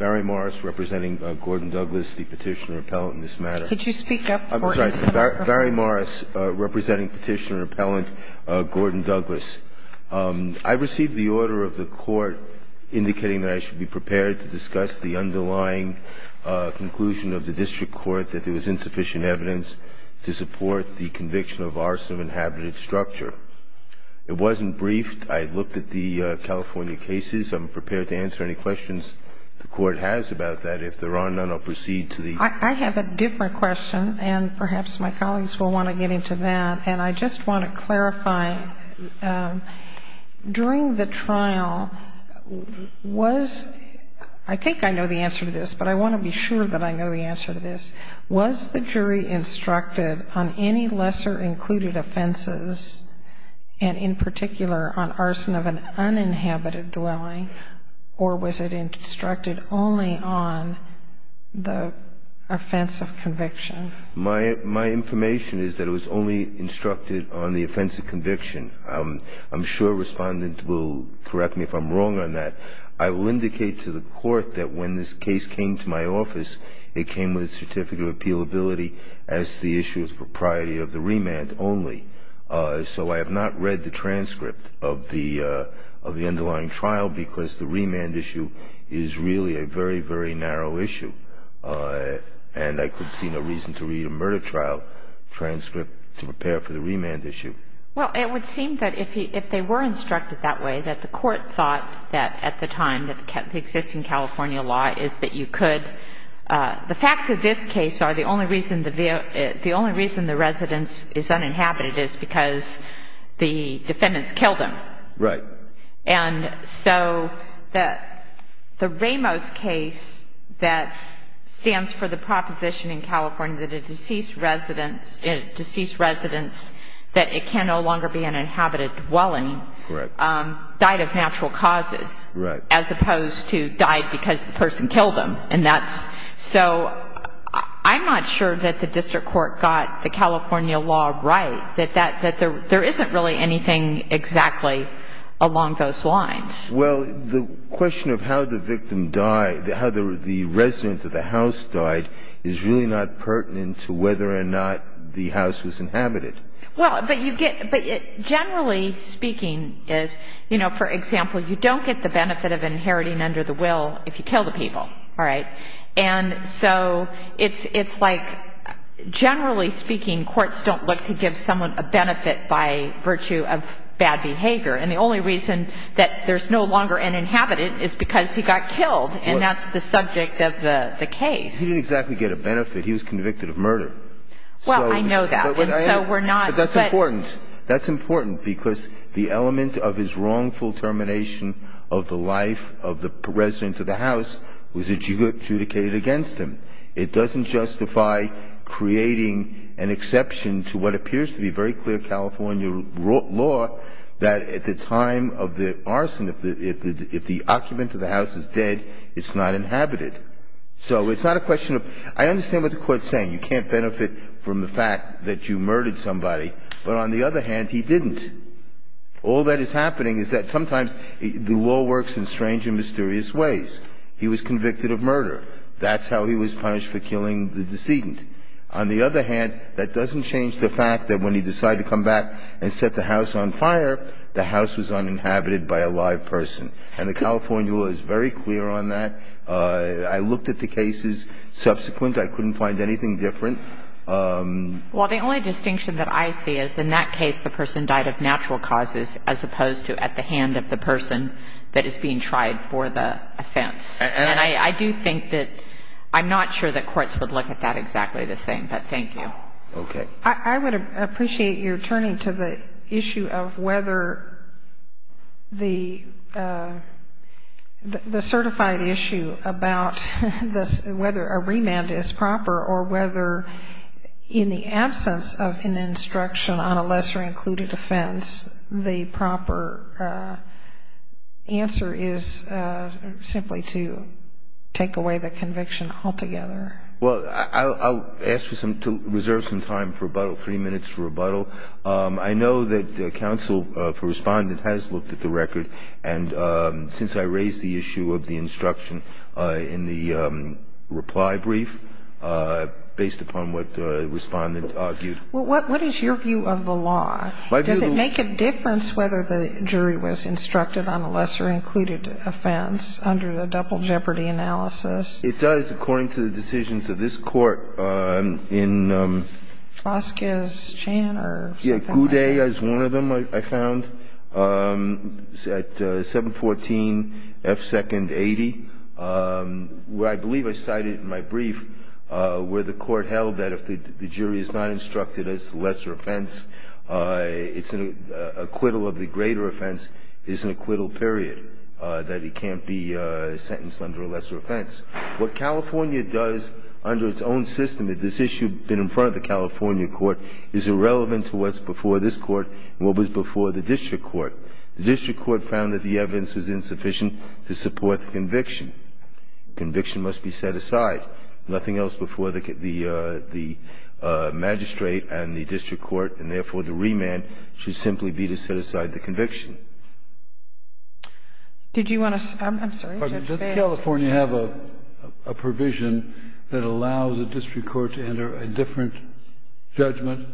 I received the order of the court indicating that I should be prepared to discuss the underlying conclusion of the district court that there was insufficient evidence to support the conviction of arson of inhabited structure. It wasn't briefed. I looked at the California cases. I'm prepared to answer any questions the court has about that. If there are none, I'll proceed to the court. I have a different question, and perhaps my colleagues will want to get into that. And I just want to clarify, during the trial, was – I think I know the answer to this, but I want to be sure that I know the answer to this. Was the jury instructed on any lesser included offenses, and in particular on arson of an uninhabited dwelling, or was it instructed only on the offense of conviction? My information is that it was only instructed on the offense of conviction. I'm sure a respondent will correct me if I'm wrong on that. I will indicate to the court that when this case came to my office, it came with a certificate of appealability as the issue of propriety of the remand only. So I have not read the transcript of the underlying trial because the remand issue is really a very, very narrow issue. And I could see no reason to read a murder trial transcript to prepare for the remand issue. Well, it would seem that if they were instructed that way, that the court thought that at the time that the existing California law is that you could – the facts of this case are the only reason the residence is uninhabited is because the defendants killed him. Right. And so the Ramos case that stands for the proposition in California that a deceased residence – a deceased residence that it can no longer be an inhabited dwelling died of natural causes. Right. As opposed to died because the person killed him. So I'm not sure that the district court got the California law right, that there isn't really anything exactly along those lines. Well, the question of how the victim died, how the resident of the house died, is really not pertinent to whether or not the house was inhabited. Well, but you get – but generally speaking, you know, for example, you don't get the benefit of inheriting under the will if you kill the people. All right. And so it's like generally speaking, courts don't look to give someone a benefit by virtue of bad behavior. And the only reason that there's no longer an inhabited is because he got killed, and that's the subject of the case. He didn't exactly get a benefit. He was convicted of murder. Well, I know that. And so we're not – But that's important. That's important because the element of his wrongful termination of the life of the resident of the house was adjudicated against him. It doesn't justify creating an exception to what appears to be very clear California law that at the time of the arson, if the occupant of the house is dead, it's not inhabited. So it's not a question of – I understand what the Court is saying. You can't benefit from the fact that you murdered somebody. But on the other hand, he didn't. All that is happening is that sometimes the law works in strange and mysterious ways. He was convicted of murder. That's how he was punished for killing the decedent. On the other hand, that doesn't change the fact that when he decided to come back and set the house on fire, the house was uninhabited by a live person. And the California law is very clear on that. I looked at the cases subsequent. I couldn't find anything different. Well, the only distinction that I see is in that case, the person died of natural causes as opposed to at the hand of the person that is being tried for the offense. And I do think that – I'm not sure that courts would look at that exactly the same, but thank you. Okay. I would appreciate your turning to the issue of whether the certified issue about whether a remand is proper or whether in the absence of an instruction on a lesser-included offense, the proper answer is simply to take away the conviction altogether. Well, I'll ask you to reserve some time for rebuttal, three minutes for rebuttal. I know that counsel for Respondent has looked at the record, and since I raised the issue of the instruction in the reply brief based upon what Respondent argued. Well, what is your view of the law? Does it make a difference whether the jury was instructed on a lesser-included offense under the double jeopardy analysis? It does, according to the decisions of this Court in – Foscas, Chan or something like that? Yeah, Goudet is one of them, I found, at 714 F. 2nd. 80, where I believe I cited in my brief where the Court held that if the jury is not instructed as a lesser offense, it's an acquittal of the greater offense is an acquittal period, that it can't be sentenced under a lesser offense. What California does under its own system, if this issue had been in front of the California Court, is irrelevant to what's before this Court and what was before the district court. The district court found that the evidence was insufficient to support the conviction. The conviction must be set aside. Nothing else before the magistrate and the district court, and therefore, the remand should simply be to set aside the conviction. Did you want to – I'm sorry. Does California have a provision that allows a district court to enter a different judgment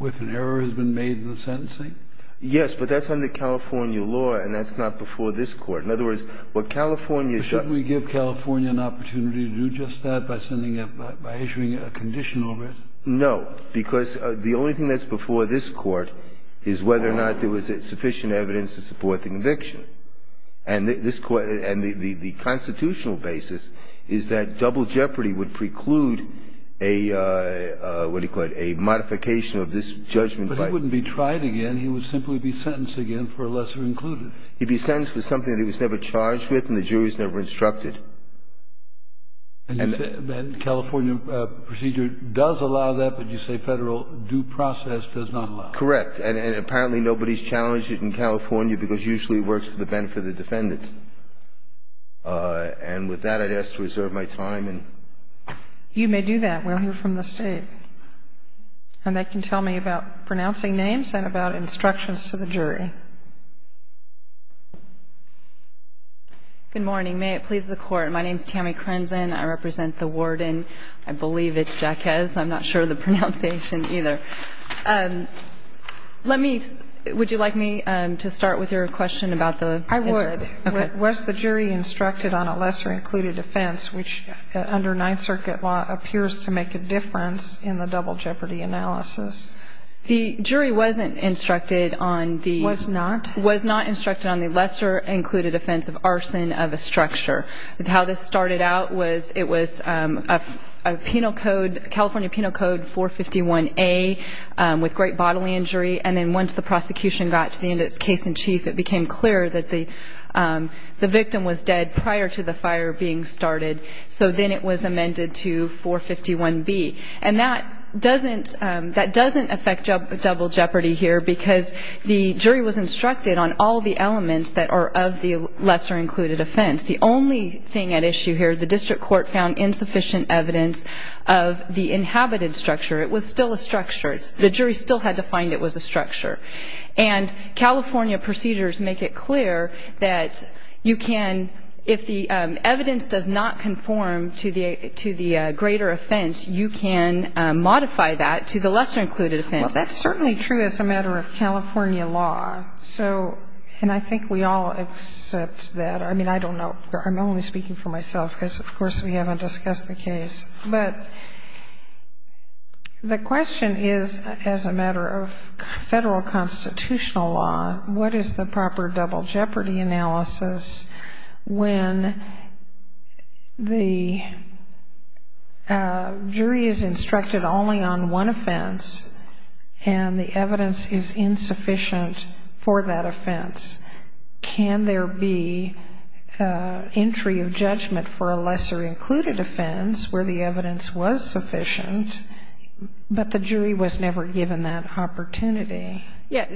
if an error has been made in the sentencing? Yes, but that's under California law, and that's not before this Court. In other words, what California does – Shouldn't we give California an opportunity to do just that by sending a – by issuing a condition over it? No, because the only thing that's before this Court is whether or not there was sufficient evidence to support the conviction. And this Court – and the constitutional basis is that double jeopardy would preclude a – what do you call it – a modification of this judgment by – But he wouldn't be tried again. He would simply be sentenced again for a lesser included. He'd be sentenced for something that he was never charged with and the jury was never instructed. And California procedure does allow that, but you say Federal due process does not allow Correct. And apparently nobody's challenged it in California because usually it works for the benefit of the defendants. And with that, I'd ask to reserve my time. You may do that. We'll hear from the State. And they can tell me about pronouncing names and about instructions to the jury. Good morning. May it please the Court. My name is Tammy Crimson. I represent the warden. I believe it's Jacquez. I'm not sure of the pronunciation either. Let me – would you like me to start with your question about the – I would. Okay. Was the jury instructed on a lesser included offense, which under Ninth Circuit law appears to make a difference in the double jeopardy analysis? The jury wasn't instructed on the – Was not? Was not instructed on the lesser included offense of arson of a structure. How this started out was it was a penal code, California Penal Code 451A, with great bodily injury. And then once the prosecution got to the end of its case in chief, it became clear that the victim was dead prior to the fire being started. So then it was amended to 451B. And that doesn't affect double jeopardy here because the jury was instructed on all the elements that are of the lesser included offense. The only thing at issue here, the district court found insufficient evidence of the inhabited structure. It was still a structure. The jury still had to find it was a structure. And California procedures make it clear that you can – if the evidence does not conform to the greater offense, you can modify that to the lesser included offense. Well, that's certainly true as a matter of California law. So – and I think we all accept that. I mean, I don't know. I'm only speaking for myself because, of course, we haven't discussed the case. But the question is, as a matter of Federal constitutional law, what is the proper double jeopardy analysis when the jury is instructed only on one offense and the evidence is insufficient for that offense? Can there be entry of judgment for a lesser included offense where the evidence was sufficient but the jury was never given that opportunity? Yes.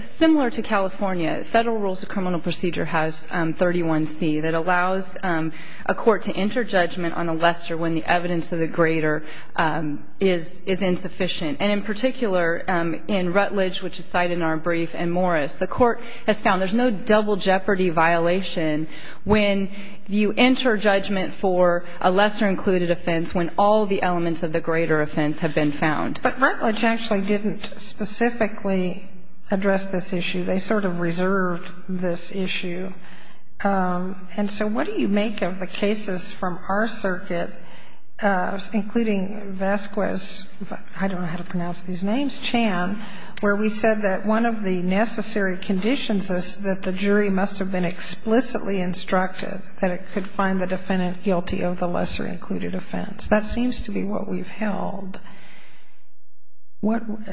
Similar to California, Federal Rules of Criminal Procedure has 31C that allows a court to enter judgment on a lesser when the evidence of the greater is insufficient. And in particular, in Rutledge, which is cited in our brief, in Morris, the court has found there's no double jeopardy violation when you enter judgment for a lesser included offense when all the elements of the greater offense have been found. But Rutledge actually didn't specifically address this issue. They sort of reserved this issue. And so what do you make of the cases from our circuit, including Vasquez – I don't know how to pronounce these names – where we said that one of the necessary conditions is that the jury must have been explicitly instructed that it could find the defendant guilty of the lesser included offense. That seems to be what we've held.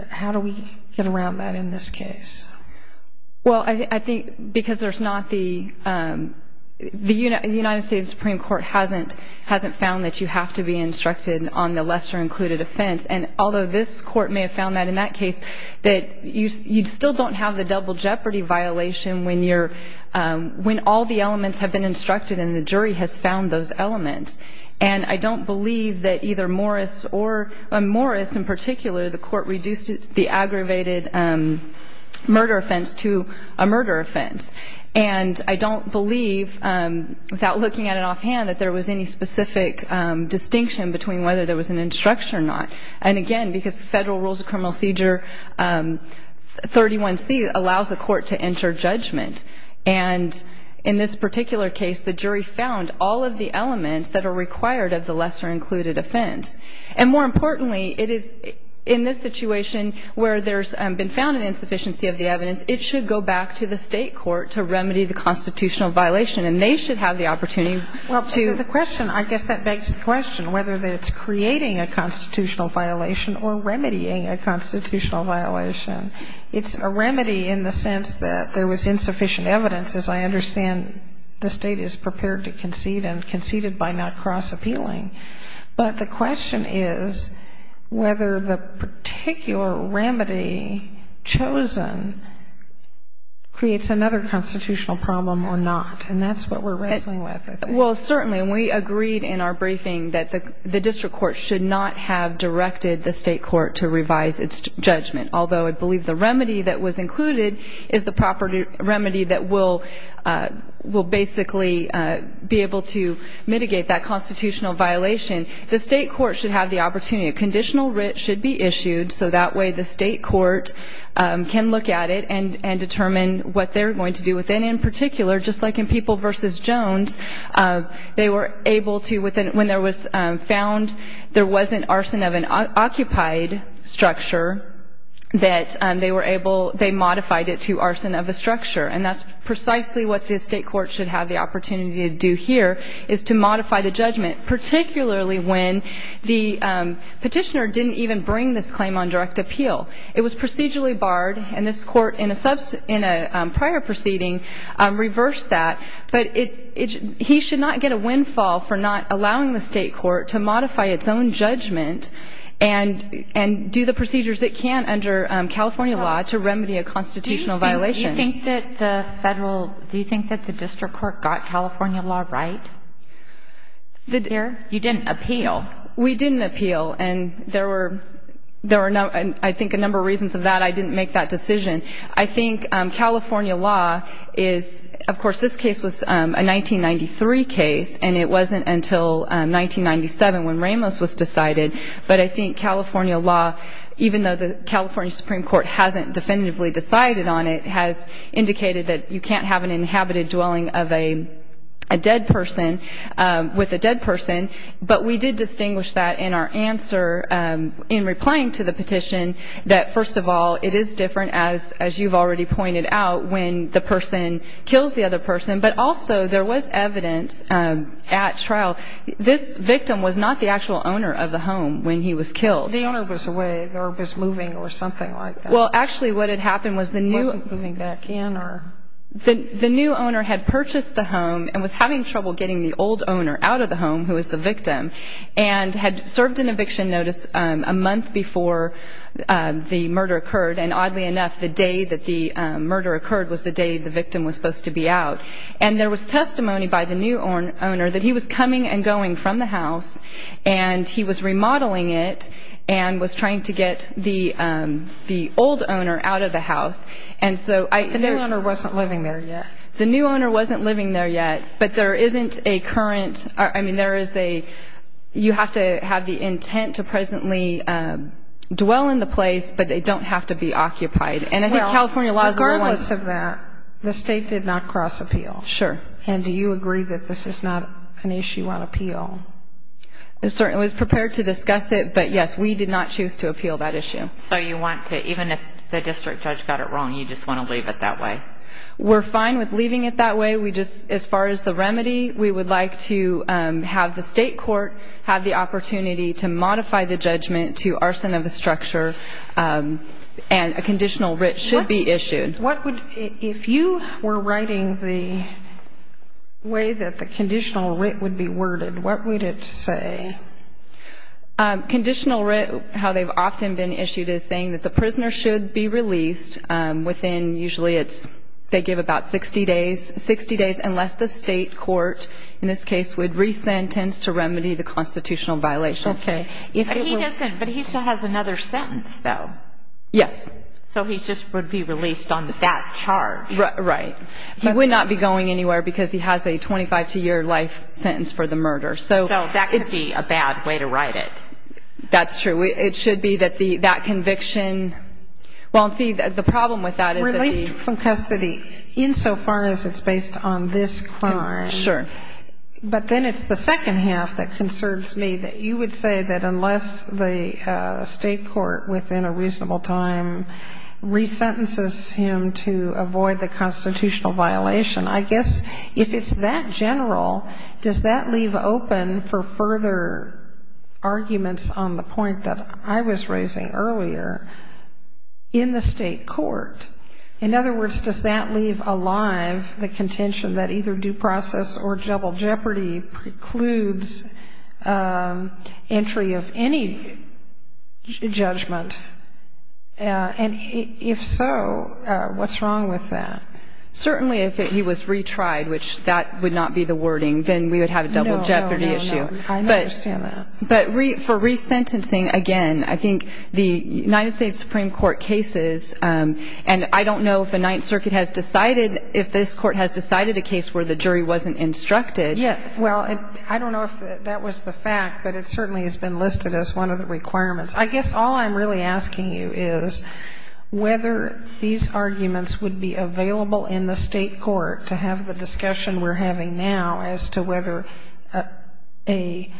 How do we get around that in this case? Well, I think because there's not the – the United States Supreme Court hasn't found that you have to be instructed on the lesser included offense. And although this court may have found that in that case, that you still don't have the double jeopardy violation when all the elements have been instructed and the jury has found those elements. And I don't believe that either Morris or – in Morris in particular, the court reduced the aggravated murder offense to a murder offense. And I don't believe, without looking at it offhand, that there was any specific distinction between whether there was an instruction or not. And again, because federal rules of criminal seizure 31C allows the court to enter judgment. And in this particular case, the jury found all of the elements that are required of the lesser included offense. And more importantly, it is in this situation where there's been found an insufficiency of the evidence, it should go back to the state court to remedy the constitutional violation. And they should have the opportunity to – Well, the question – I guess that begs the question whether it's creating a constitutional violation or remedying a constitutional violation. It's a remedy in the sense that there was insufficient evidence, as I understand the State is prepared to concede and conceded by not cross-appealing. But the question is whether the particular remedy chosen creates another constitutional problem or not. And that's what we're wrestling with, I think. Well, certainly, and we agreed in our briefing that the district court should not have directed the state court to revise its judgment, although I believe the remedy that was included is the proper remedy that will basically be able to mitigate that constitutional violation. The state court should have the opportunity. A conditional writ should be issued, so that way the state court can look at it and determine what they're going to do with it. And in particular, just like in People v. Jones, they were able to, when there was found there wasn't arson of an occupied structure, that they were able – they modified it to arson of a structure. And that's precisely what the state court should have the opportunity to do here, is to modify the judgment, particularly when the petitioner didn't even bring this claim on direct appeal. It was procedurally barred. And this Court in a prior proceeding reversed that. But he should not get a windfall for not allowing the state court to modify its own judgment and do the procedures it can under California law to remedy a constitutional violation. Do you think that the federal – do you think that the district court got California law right? You didn't appeal. We didn't appeal. And there were, I think, a number of reasons of that. But I didn't make that decision. I think California law is – of course, this case was a 1993 case, and it wasn't until 1997 when Ramos was decided. But I think California law, even though the California Supreme Court hasn't definitively decided on it, has indicated that you can't have an inhabited dwelling of a dead person with a dead person. But we did distinguish that in our answer in replying to the petition that, first of all, it is different, as you've already pointed out, when the person kills the other person. But also, there was evidence at trial. This victim was not the actual owner of the home when he was killed. The owner was away or was moving or something like that. Well, actually, what had happened was the new – He wasn't moving back in or – The new owner had purchased the home and was having trouble getting the old owner out of the home, who was the victim, and had served an eviction notice a month before the murder occurred. And oddly enough, the day that the murder occurred was the day the victim was supposed to be out. And there was testimony by the new owner that he was coming and going from the house, and he was remodeling it and was trying to get the old owner out of the house. And so I – The new owner wasn't living there yet. The new owner wasn't living there yet, but there isn't a current – I mean, there is a – you have to have the intent to presently dwell in the place, but they don't have to be occupied. And I think California laws – Well, regardless of that, the State did not cross-appeal. Sure. And do you agree that this is not an issue on appeal? I was prepared to discuss it, but yes, we did not choose to appeal that issue. So you want to – even if the district judge got it wrong, you just want to leave it that way? We're fine with leaving it that way. We just – as far as the remedy, we would like to have the State court have the opportunity to modify the judgment to arson of the structure, and a conditional writ should be issued. What would – if you were writing the way that the conditional writ would be worded, what would it say? Conditional writ, how they've often been issued, is saying that the prisoner should be released within – usually it's – they give about 60 days, 60 days unless the State court, in this case, would re-sentence to remedy the constitutional violation. Okay. But he doesn't – but he still has another sentence, though. Yes. So he just would be released on that charge. Right. He would not be going anywhere because he has a 25-year life sentence for the murder. So that could be a bad way to write it. That's true. It should be that the – that conviction – well, see, the problem with that is that the – Released from custody insofar as it's based on this crime. Sure. But then it's the second half that concerns me, that you would say that unless the State court, within a reasonable time, re-sentences him to avoid the constitutional violation, I guess if it's that general, does that leave open for further arguments on the point that I was raising earlier, in the State court? In other words, does that leave alive the contention that either due process or double jeopardy precludes entry of any judgment? And if so, what's wrong with that? Certainly if he was retried, which that would not be the wording, then we would have a double jeopardy issue. No, no, no. I understand that. But for re-sentencing, again, I think the United States Supreme Court cases, and I don't know if the Ninth Circuit has decided – if this Court has decided a case where the jury wasn't instructed. Yeah. Well, I don't know if that was the fact, but it certainly has been listed as one of the requirements. I guess all I'm really asking you is whether these arguments would be available in the State court to have the discussion we're having now as to whether a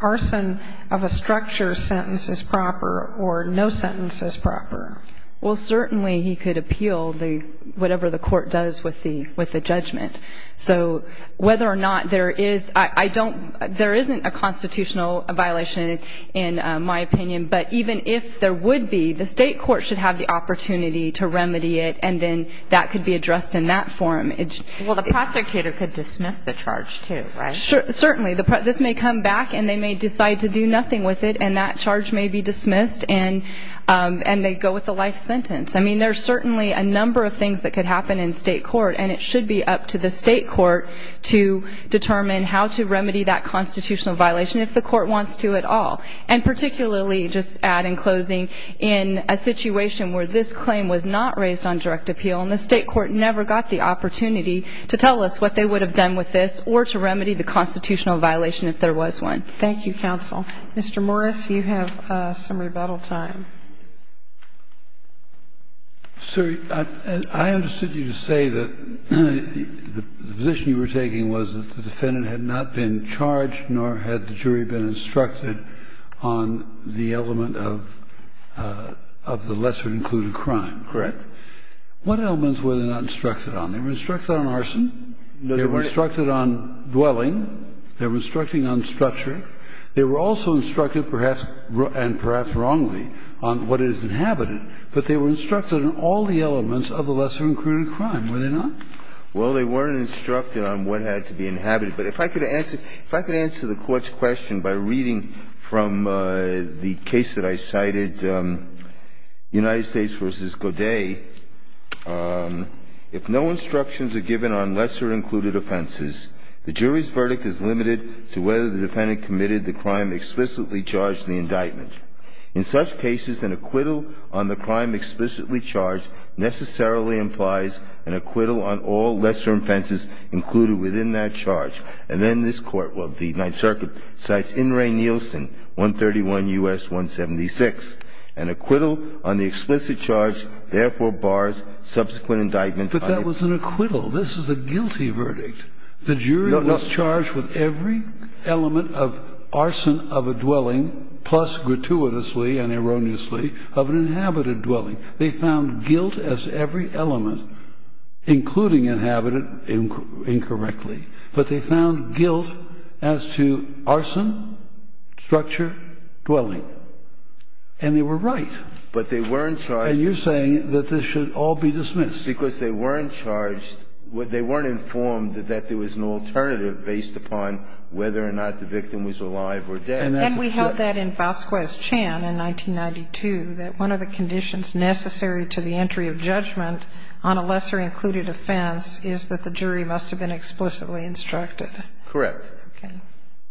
arson of a structure sentence is proper or no sentence is proper. Well, certainly he could appeal the – whatever the court does with the judgment. So whether or not there is – I don't – there isn't a constitutional violation in my opinion, but even if there would be, the State court should have the opportunity to remedy it, and then that could be addressed in that form. Well, the prosecutor could dismiss the charge, too, right? Certainly. This may come back, and they may decide to do nothing with it, and that charge may be dismissed, and they go with the life sentence. I mean, there's certainly a number of things that could happen in State court, and it should be up to the State court to determine how to remedy that constitutional violation, if the court wants to at all. And particularly, just to add in closing, in a situation where this claim was not raised on direct appeal and the State court never got the opportunity to tell us what they would have done with this or to remedy the constitutional violation if there was one. Thank you, counsel. Mr. Morris, you have some rebuttal time. Sir, I understood you to say that the position you were taking was that the defendant had not been charged, nor had the jury been instructed on the element of the lesser included crime. Correct. What elements were they not instructed on? They were instructed on arson. No, they weren't. They were instructed on dwelling. They were instructing on structure. They were also instructed, perhaps, and perhaps wrongly, on what is inhabited. But they were instructed on all the elements of the lesser included crime, were they not? Well, they weren't instructed on what had to be inhabited. But if I could answer the Court's question by reading from the case that I cited, United States v. Godet, if no instructions are given on lesser included offenses, the jury's verdict is limited to whether the defendant committed the crime explicitly charged in the indictment. In such cases, an acquittal on the crime explicitly charged necessarily implies an acquittal on all lesser offenses included within that charge. And then this Court, well, the Ninth Circuit, cites In re Nielsen, 131 U.S. 176. An acquittal on the explicit charge therefore bars subsequent indictment. But that was an acquittal. This was a guilty verdict. The jury was charged with every element of arson of a dwelling, plus gratuitously and erroneously of an inhabited dwelling. They found guilt as every element, including inhabited, incorrectly. But they found guilt as to arson, structure, dwelling. And they were right. But they weren't charged. And you're saying that this should all be dismissed. Just because they weren't charged, they weren't informed that there was an alternative based upon whether or not the victim was alive or dead. And we held that in Vasquez-Chan in 1992, that one of the conditions necessary to the entry of judgment on a lesser included offense is that the jury must have been explicitly instructed. Correct. Okay.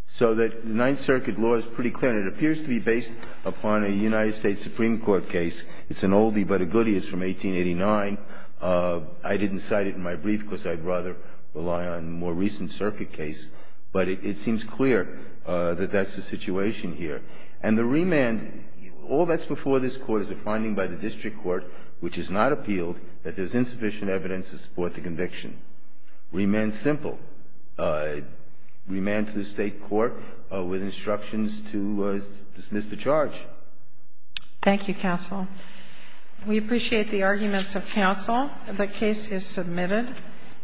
So the Ninth Circuit law is pretty clear. It appears to be based upon a United States Supreme Court case. It's an oldie but a goodie. It's from 1889. I didn't cite it in my brief because I'd rather rely on a more recent circuit case. But it seems clear that that's the situation here. And the remand, all that's before this Court is a finding by the district court which has not appealed that there's insufficient evidence to support the conviction. Remand's simple. Remand to the State court with instructions to dismiss the charge. Thank you, counsel. We appreciate the arguments of counsel. The case is submitted.